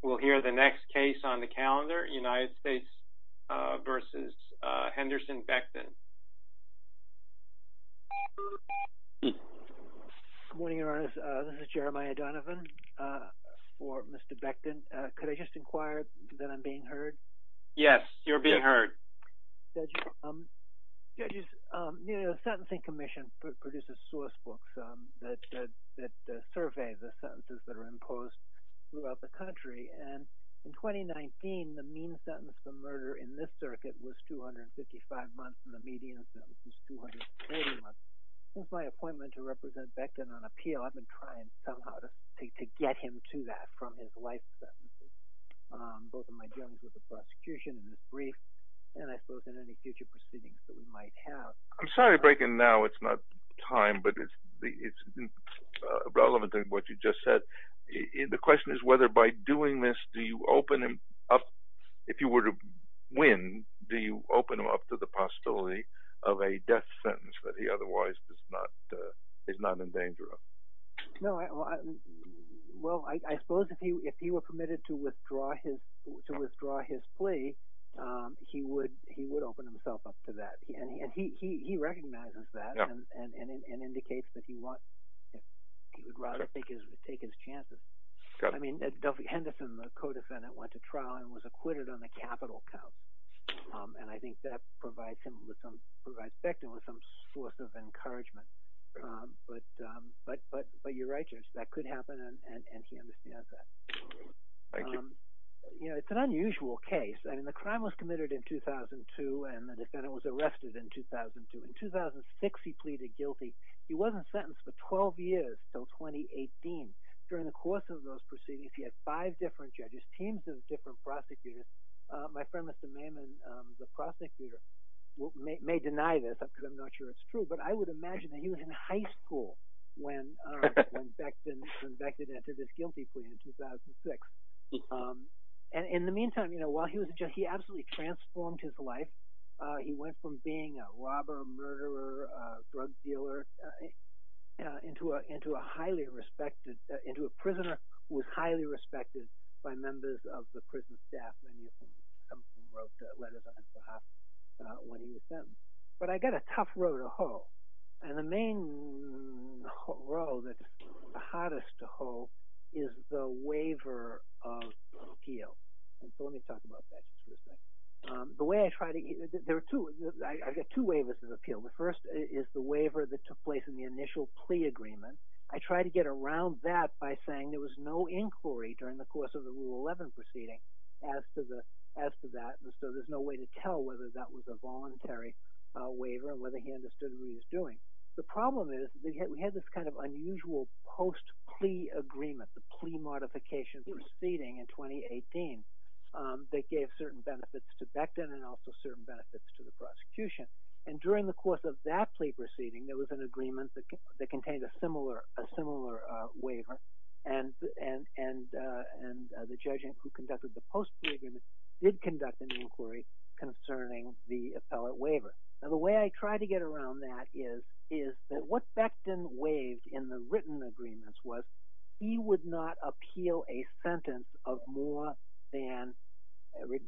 Good morning, Your Honors. This is Jeremiah Donovan for Mr. Becton. Could I just inquire that I'm being heard? Yes, you're being heard. Judges, the Sentencing Commission produces sourcebooks that survey the sentences that are imposed throughout the country, and in 2019, the mean sentence for murder in this circuit was 255 months, and the median sentence was 280 months. Since my appointment to represent Becton on appeal, I've been trying somehow to get him to that from his life sentences, both in my journals with the prosecution and this brief, and I suppose in any future proceedings that we might have. I'm sorry to break in now, it's not time, but it's relevant to what you just said. The question is whether by doing this, do you open him up, if you were to win, do you open him up to the possibility of a death sentence that he otherwise is not in danger of? Well, I suppose if he were permitted to withdraw his plea, he would open himself up to that, and he recognizes that and indicates that he would rather take his chances. I mean, Henderson, the co-defendant, went to trial and was acquitted on the capital count, and I think that provides Becton with some source of encouragement. But you're right, Judge, that could happen, and he understands that. Thank you. You know, it's an unusual case. I mean, the crime was committed in 2002, and the defendant was arrested in 2002. In 2006, he pleaded guilty. He wasn't sentenced for 12 years until 2018. During the course of those proceedings, he had five different judges, teams of different prosecutors. My friend, Mr. Maiman, the prosecutor, may deny this because I'm not sure it's true, but I would imagine that he was in high school when Becton entered his guilty plea in 2006. In the meantime, you know, while he was a judge, he absolutely transformed his life. He went from being a robber, a murderer, a drug dealer, into a highly respected, into a prisoner who was highly respected by members of the prison staff when he was sentenced. But I got a tough row to hoe, and the main row that's the hottest to hoe is the waiver of appeal, and so let me talk about that just for a second. The way I try to, there are two, I've got two waivers of appeal. The first is the waiver that took place in the initial plea agreement. I try to get around that by saying there was no inquiry during the course of the Rule 11 proceeding as to that, and so there's no way to tell whether that was a voluntary waiver or whether he understood what he was doing. The problem is we had this kind of unusual post-plea agreement, the plea modification proceeding in 2018 that gave certain benefits to Becton and also certain benefits to the written agreement that contained a similar waiver, and the judge who conducted the post-plea agreement did conduct an inquiry concerning the appellate waiver. Now, the way I try to get around that is that what Becton waived in the written agreements was he would not appeal a sentence of more than,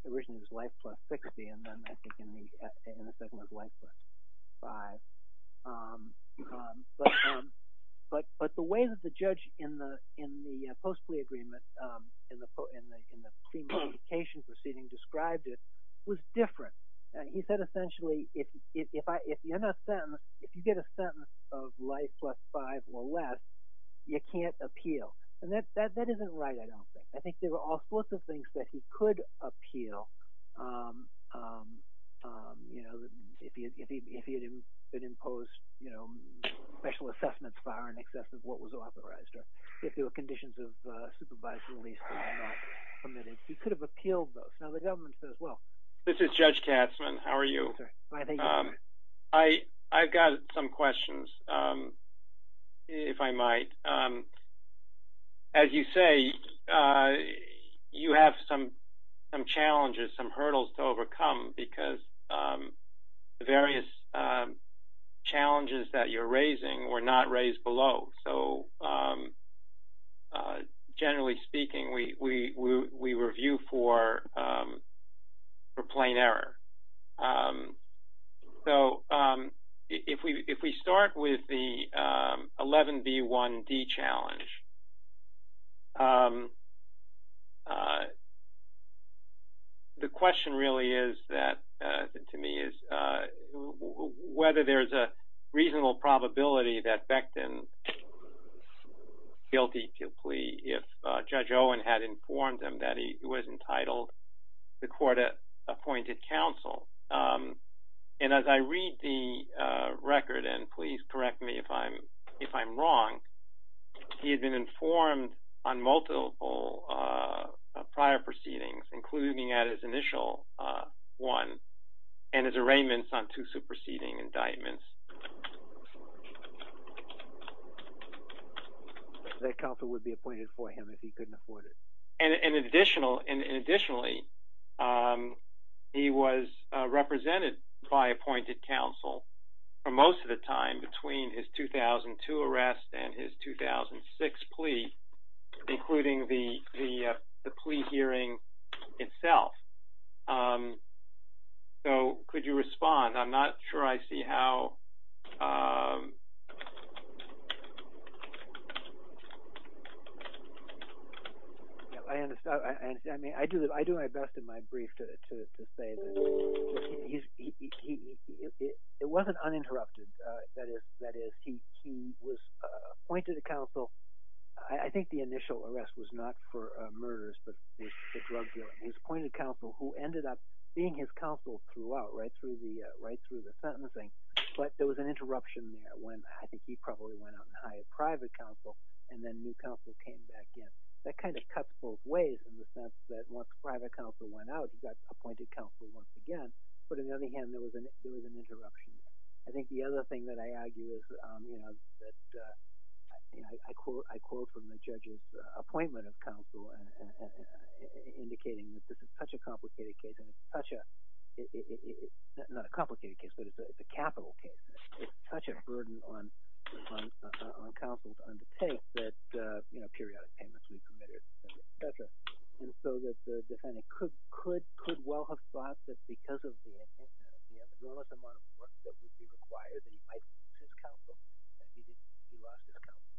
originally it was life plus 60, and then I think in the second one it was life plus 5, but the way that the judge in the post-plea agreement, in the plea modification proceeding described it was different. He said essentially if you get a sentence of life plus 5 or less, you can't appeal, and that isn't right, I don't think. I think there were all sorts of things that he could appeal if he had imposed special assessments far in excess of what was authorized or if there were conditions of supervised release that were not permitted. He could have appealed those. Now, the government says, well. This is Judge Katzmann, how are you? I've got some questions, if I might. As you say, you have some challenges, some hurdles to overcome because the various challenges that you're raising were not raised below, so generally speaking, we review for plain error. So, if we start with the 11B1D challenge, the question really is that, to me, is whether there's a reasonable probability that Becton is guilty to a plea if Judge Owen had informed him that he was entitled to court-appointed counsel. And as I read the record, and please correct me if I'm wrong, he had been informed on multiple prior proceedings, including at least his initial one, and his arraignments on two superseding indictments. That counsel would be appointed for him if he couldn't afford it. And additionally, he was represented by appointed counsel for most of the time between his So, could you respond? I'm not sure I see how... I do my best in my brief to say that it wasn't uninterrupted. That is, he was appointed counsel. I think the initial arrest was not for murders, but for drug dealing. He was appointed counsel who ended up being his counsel throughout, right through the sentencing. But there was an interruption there when I think he probably went out and hired private counsel, and then new counsel came back in. That kind of cuts both ways in the sense that once private counsel went out, he got appointed counsel once again. But on the other hand, there was an interruption there. I think the other thing that I argue is that I quote from the judge's appointment of counsel indicating that this is such a complicated case, and it's such a... not a complicated case, but it's a capital case. It's such a burden on counsel to undertake that periodic payments were committed, et cetera. And so that the defendant could well have thought that because of the intention of it, he had a relative amount of work that would be required, and he might lose his counsel, and he lost his counsel,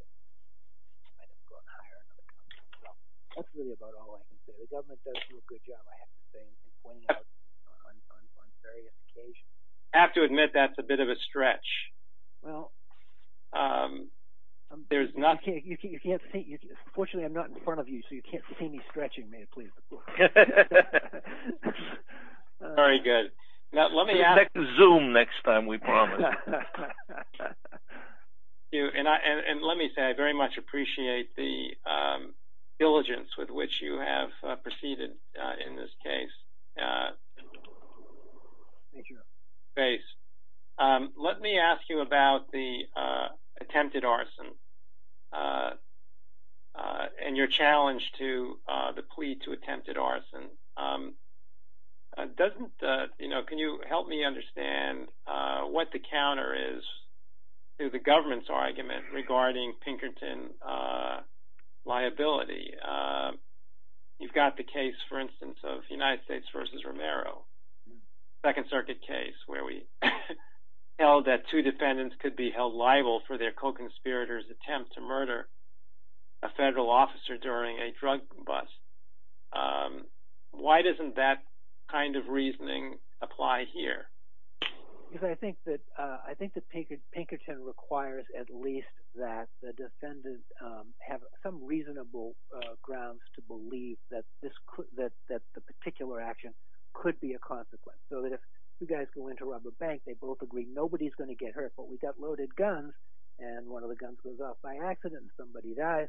and he might have gone and hired another counsel. So that's really about all I can say. The government does do a good job, I have to say, in pointing out on various occasions. I have to admit that's a bit of a stretch. Well... There's not... You can't see. Fortunately, I'm not in front of you, so you can't see me stretching, may it please the court. Okay. Very good. Now, let me ask... Check Zoom next time, we promise. Thank you. And let me say, I very much appreciate the diligence with which you have proceeded in this case. Thank you. Let me ask you about the attempted arson and your challenge to the plea to attempted arson. Can you help me understand what the counter is to the government's argument regarding Pinkerton liability? You've got the case, for instance, of United States versus Romero, Second Circuit case, where we held that two defendants could be held liable for their co-conspirator's attempt to murder a federal officer during a drug bust. Why doesn't that kind of reasoning apply here? Because I think that Pinkerton requires at least that the defendant have some reasonable grounds to believe that the particular action could be a consequence. So that if two guys go in to rob a bank, they both agree nobody's going to get hurt, but we've got loaded guns, and one of the guns goes off by accident and somebody dies.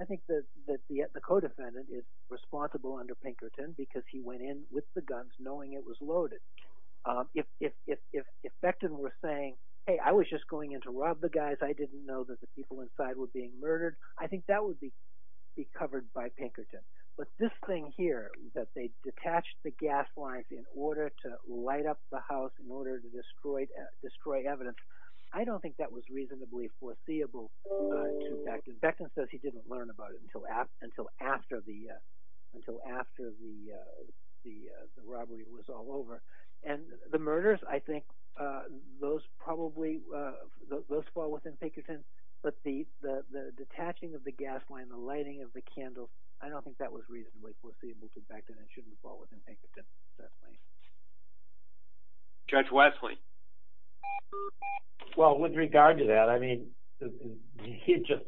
I think that the co-defendant is responsible under Pinkerton because he went in with the guns knowing it was loaded. If Bechtin were saying, hey, I was just going in to rob the guys, I didn't know that the people inside were being murdered, I think that would be covered by Pinkerton. But this thing here, that they detached the gas lines in order to light up the house, in order to destroy evidence, I don't think that was reasonably foreseeable to Bechtin. Bechtin says he didn't learn about it until after the robbery was all over. And the murders, I think, those fall within Pinkerton, but the detaching of the gas line, the lighting of the candles, I don't think that was reasonably foreseeable to Bechtin. It shouldn't fall within Pinkerton. Judge Wesley? Well, with regard to that, I mean, he just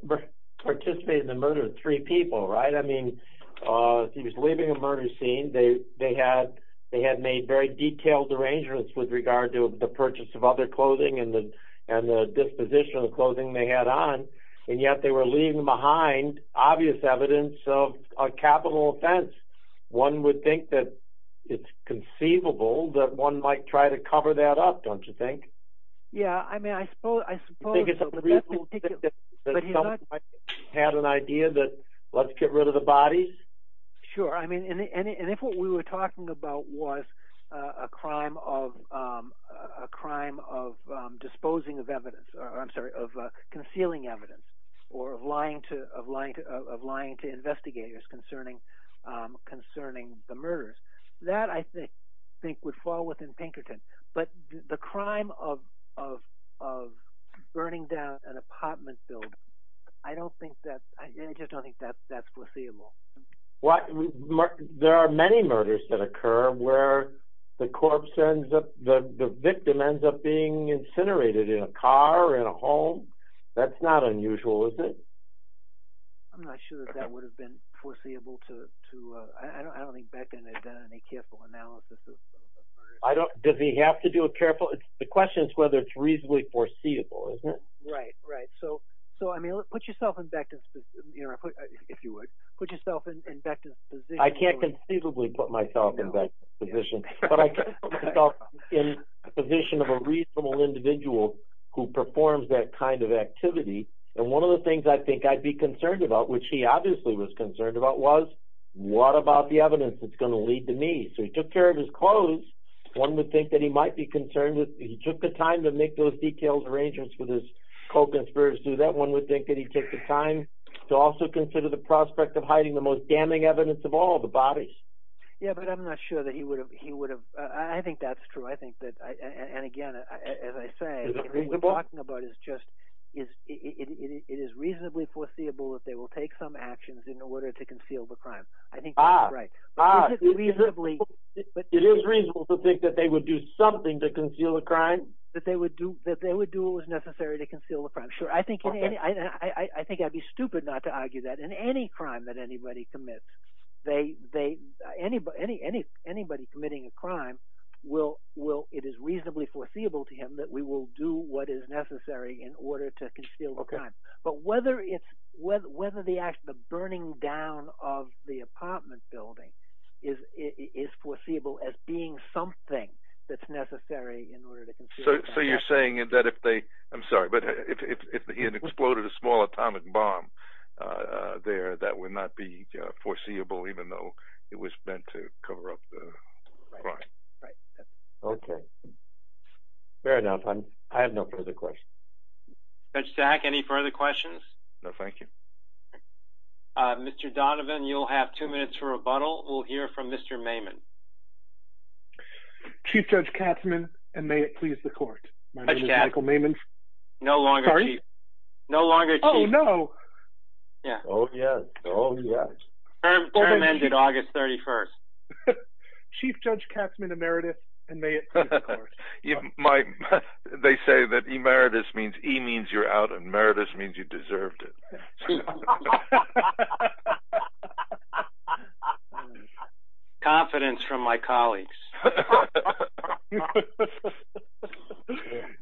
participated in the murder of three people, right? I mean, he was leaving a murder scene. They had made very detailed arrangements with regard to the purchase of other clothing and the disposition of clothing they had on, and yet they were leaving behind obvious evidence of a capital offense. One would think that it's conceivable that one might try to cover that up, don't you think? Yeah, I mean, I suppose so. Do you think it's reasonable to think that someone had an idea that let's get rid of the bodies? Sure, I mean, and if what we were talking about was a crime of disposing of evidence, I'm sorry, of concealing evidence, or of lying to investigators concerning the murders, that I think would fall within Pinkerton. But the crime of burning down an apartment building, I just don't think that's foreseeable. There are many murders that occur where the victim ends up being incinerated in a car or in a home. That's not unusual, is it? I'm not sure that that would have been foreseeable to, I don't think Bechtin had done any careful analysis of those murders. Does he have to do a careful, the question is whether it's reasonably foreseeable, isn't it? Right, right. So put yourself in Bechtin's, if you would, put yourself in Bechtin's position. I can't conceivably put myself in Bechtin's position, but I can put myself in the position of a reasonable individual who performs that kind of activity. And one of the things I think I'd be concerned about, which he obviously was concerned about, was what about the evidence that's going to lead to me? So he took care of his clothes. One would think that he might be concerned that he took the time to make those detailed arrangements with his co-conspirators. So that one would think that he took the time to also consider the prospect of hiding the most damning evidence of all, the bodies. Yeah, but I'm not sure that he would have, I think that's true. I think that, and again, as I say, what we're talking about is just, it is reasonably foreseeable that they will take some actions in order to conceal the crime. I think that's right. It is reasonable to think that they would do something to conceal the crime? That they would do what was necessary to conceal the crime. Sure, I think I'd be stupid not to argue that. In any crime that anybody commits, anybody committing a crime, it is reasonably foreseeable to him that we will do what is necessary in order to conceal the crime. But whether the burning down of the apartment building is foreseeable as being something that's necessary in order to conceal the crime. So you're saying that if they, I'm sorry, but if he had exploded a small atomic bomb there, that would not be foreseeable even though it was meant to cover up the crime? Right, right. Okay. Fair enough. I have no further questions. Judge Stack, any further questions? No, thank you. Mr. Donovan, you'll have two minutes for rebuttal. We'll hear from Mr. Maimon. Chief Judge Katzman, and may it please the court. Judge Katzman. My name is Michael Maimon. No longer chief. Sorry? No longer chief. Oh, no. Yeah. Oh, yes. Oh, yes. Term ended August 31st. Chief Judge Katzman Emeritus, and may it please the court. They say that emeritus means, e means you're out, and meritus means you deserved it. Confidence from my colleagues.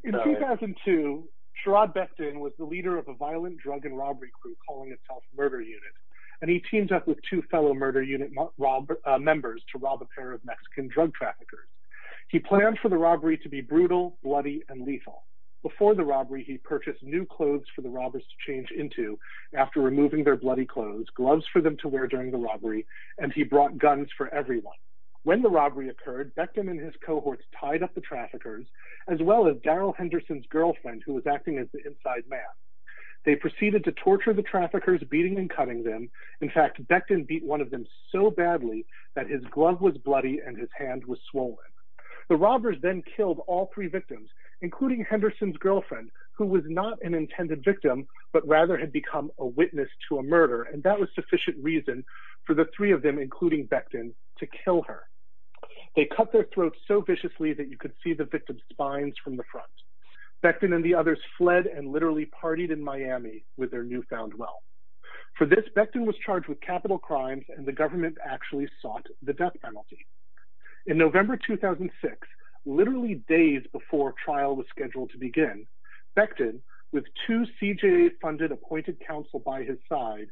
In 2002, Sherrod Becton was the leader of a violent drug and robbery crew calling himself Murder Unit, and he teamed up with two fellow Murder Unit members to rob a pair of Mexican drug traffickers. He planned for the robbery to be brutal, bloody, and lethal. Before the robbery, he purchased new clothes for the robbers to change into after removing their bloody clothes, gloves for them to wear during the robbery, and he brought guns for everyone. When the robbery occurred, Becton and his cohorts tied up the traffickers, as well as Daryl Henderson's girlfriend, who was acting as the inside man. They proceeded to torture the traffickers, beating and cutting them. In fact, Becton beat one of them so badly that his glove was bloody and his hand was swollen. The robbers then killed all three victims, including Henderson's girlfriend, who was not an intended victim, but rather had become a witness to a murder, and that was sufficient reason for the three of them, including Becton, to kill her. They cut their throats so viciously that you could see the victim's spines from the front. Becton and the others fled and literally partied in Miami with their newfound wealth. For this, Becton was charged with capital crimes, and the government actually sought the death penalty. In November 2006, literally days before trial was scheduled to begin, Becton, with two CJA-funded appointed counsel by his side,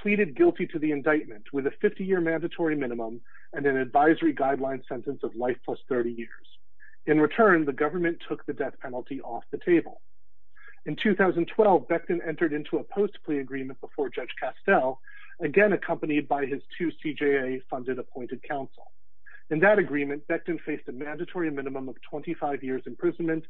pleaded guilty to the indictment with a 50-year mandatory minimum and an advisory guideline sentence of life plus 30 years. In return, the government took the death penalty off the table. In 2012, Becton entered into a post-plea agreement before Judge Castel, again accompanied by his two CJA-funded appointed counsel. In that agreement, Becton faced a mandatory minimum of 25 years' imprisonment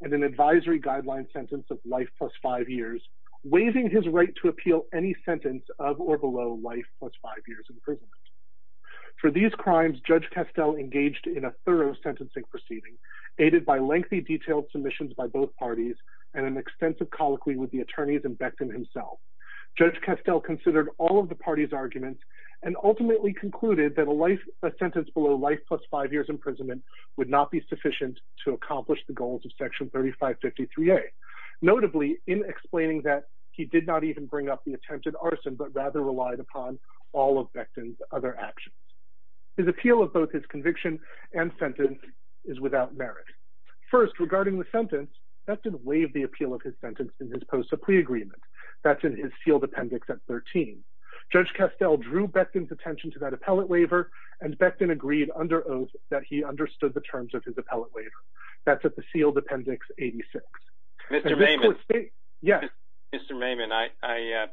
and an advisory guideline sentence of life plus five years, waiving his right to appeal any sentence of or below life plus five years' imprisonment. For these crimes, Judge Castel engaged in a thorough sentencing proceeding, aided by lengthy detailed submissions by both parties and an extensive colloquy with the attorneys and Becton himself. Judge Castel considered all of the parties' arguments and ultimately concluded that a sentence below life plus five years' imprisonment would not be sufficient to accomplish the goals of Section 3553A, notably in explaining that he did not even bring up the attempted arson but rather relied upon all of Becton's other actions. His appeal of both his conviction and sentence is without merit. First, regarding the sentence, Becton waived the appeal of his sentence in his post-plea agreement. That's in his sealed appendix at 13. Judge Castel drew Becton's attention to that appellate waiver and Becton agreed under oath that he understood the terms of his appellate waiver. That's at the sealed appendix 86. Mr. Maimon, I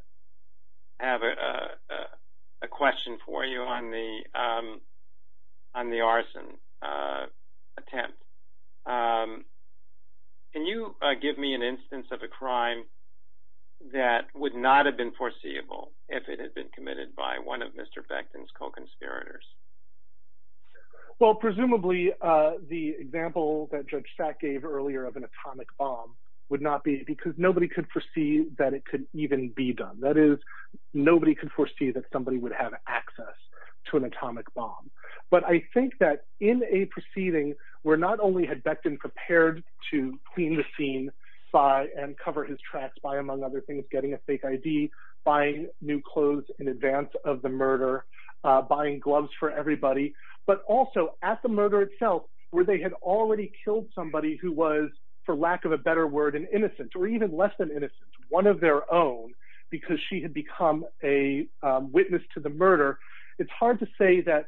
have a question for you on the arson attempt. Can you give me an instance of a crime that would not have been foreseeable if it had been committed by one of Mr. Becton's co-conspirators? Well, presumably the example that Judge Sack gave earlier of an atomic bomb would not be because nobody could foresee that it could even be done. That is, nobody could foresee that somebody would have access to an atomic bomb. But I think that in a proceeding where not only had Becton prepared to clean the scene and cover his tracks by, among other things, getting a fake ID, buying new clothes in advance of the murder, buying gloves for everybody, but also at the murder itself where they had already killed somebody who was, for lack of a better word, an innocent or even less than innocent, one of their own because she had become a witness to the murder, it's hard to say that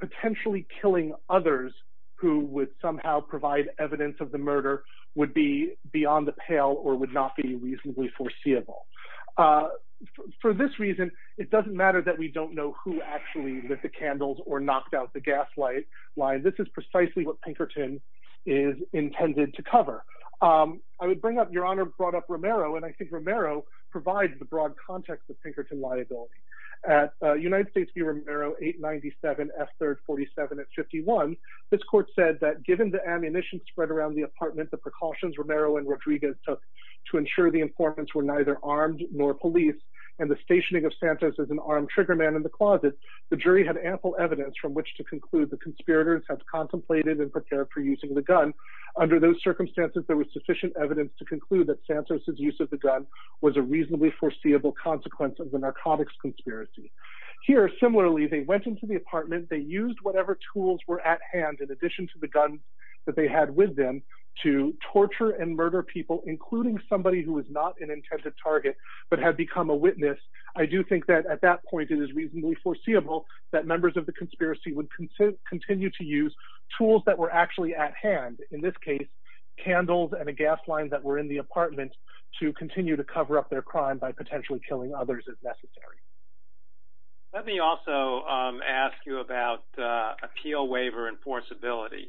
potentially killing others who would somehow provide evidence of the murder would be beyond the pale or would not be reasonably foreseeable. For this reason, it doesn't matter that we don't know who actually lit the candles or knocked out the gas line. This is precisely what Pinkerton is intended to cover. I would bring up, Your Honor brought up Romero, and I think Romero provides the broad context of Pinkerton liability. At United States v. Romero, 897 F. 3rd 47 at 51, this court said that given the ammunition spread around the apartment, the precautions Romero and Rodriguez took to ensure the informants were neither armed nor police, and the stationing of Santos as an armed triggerman in the closet, the jury had ample evidence from which to conclude the conspirators had contemplated and prepared for using the gun. Under those circumstances, there was sufficient evidence to conclude that Santos' use of the gun was a reasonably foreseeable consequence of the narcotics conspiracy. Here, similarly, they went into the apartment, they used whatever tools were at hand, in addition to the guns that they had with them, to torture and murder people, including somebody who was not an intended target but had become a witness. I do think that at that point it is reasonably foreseeable that members of the conspiracy would continue to use tools that were actually at hand, in this case, candles and a gas line that were in the apartment, to continue to cover up their crime by potentially killing others if necessary. Let me also ask you about appeal waiver enforceability.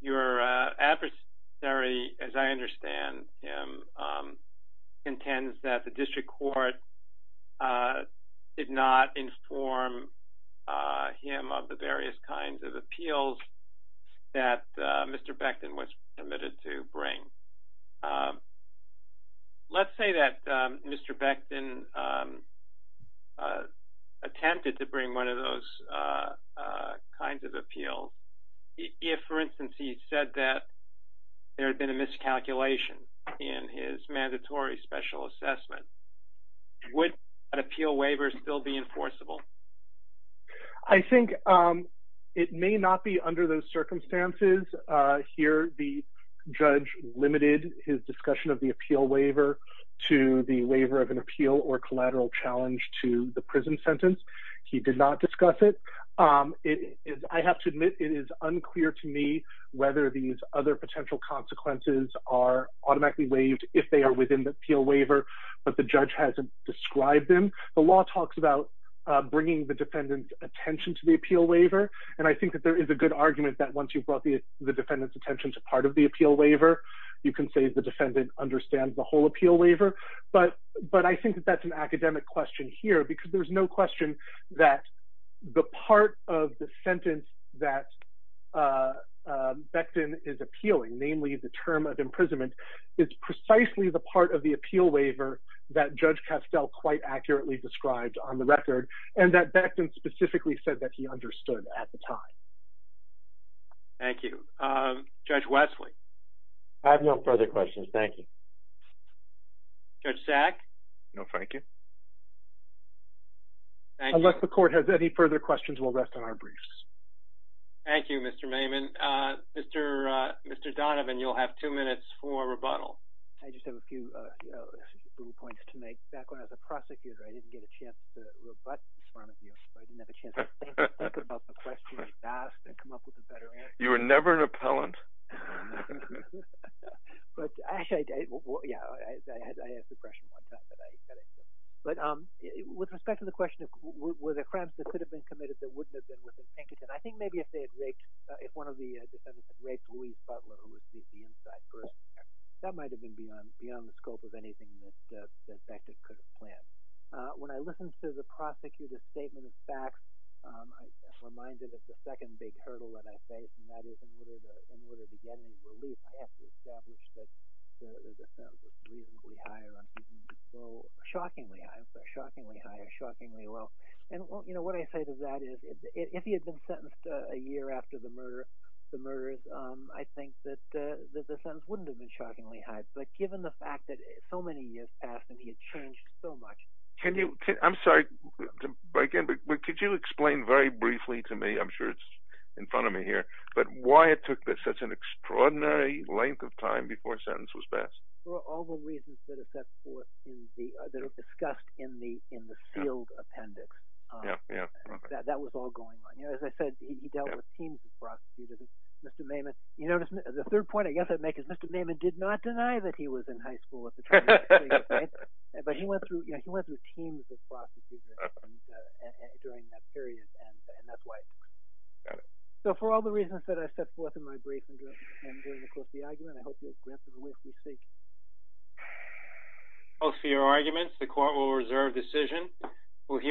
Your adversary, as I understand him, contends that the district court did not inform him of the various kinds of appeals that Mr. Becton was committed to bring. Let's say that Mr. Becton attempted to bring one of those kinds of appeals. If, for instance, he said that there had been a miscalculation in his mandatory special assessment, would an appeal waiver still be enforceable? I think it may not be under those circumstances. Here the judge limited his discussion of the appeal waiver to the waiver of an appeal or collateral challenge to the prison sentence. He did not discuss it. I have to admit it is unclear to me whether these other potential consequences are automatically waived if they are within the appeal waiver, but the judge hasn't described them. The law talks about bringing the defendant's attention to the appeal waiver, and I think that there is a good argument that once you've brought the defendant's attention to part of the appeal waiver, you can say the defendant understands the whole appeal waiver. But I think that that's an academic question here, because there's no question that the part of the sentence that Becton is appealing, namely the term of imprisonment, is precisely the part of the appeal waiver that Judge Castell quite accurately described on the record, and that Becton specifically said that he understood at the time. Thank you. Judge Wesley? I have no further questions. Thank you. Judge Sack? No, thank you. Unless the court has any further questions, we'll rest on our briefs. Thank you, Mr. Maiman. Mr. Donovan, you'll have two minutes for rebuttal. I just have a few little points to make. Back when I was a prosecutor, I didn't get a chance to rebut this from you, so I didn't have a chance to think about the questions asked and come up with a better answer. You were never an appellant. But actually – yeah, I had suppression one time, but I – but with respect to the question of were there crimes that could have been committed that wouldn't have been within Pinkerton, I think maybe if they had raped – if one of the defendants had raped Louise Butler, who was the inside person, that might have been beyond the scope of anything that Becton could have planned. When I listen to the prosecutor's statement of facts, I'm reminded of the second big hurdle that I face, and that is in order to get any relief, I have to establish that the sentence is reasonably high or I'm thinking it's so shockingly high, shockingly high, shockingly low. And what I say to that is if he had been sentenced a year after the murders, I think that the sentence wouldn't have been shockingly high. But given the fact that so many years passed and he had changed so much – Can you – I'm sorry to break in, but could you explain very briefly to me – I'm sure it's in front of me here – but why it took such an extraordinary length of time before a sentence was passed? Well, all the reasons that are set forth in the – that are discussed in the sealed appendix. Yeah, yeah. That was all going on. As I said, he dealt with teams of prosecutors. Mr. Maiman – you notice the third point I guess I'd make is Mr. Maiman did not deny that he was in high school at the time. But he went through – yeah, he went through teams of prosecutors during that period, and that's why it took so long. So for all the reasons that I've set forth in my brief and during the course of the argument, I hope you'll grant them the will to speak. Close for your arguments. The court will reserve decision.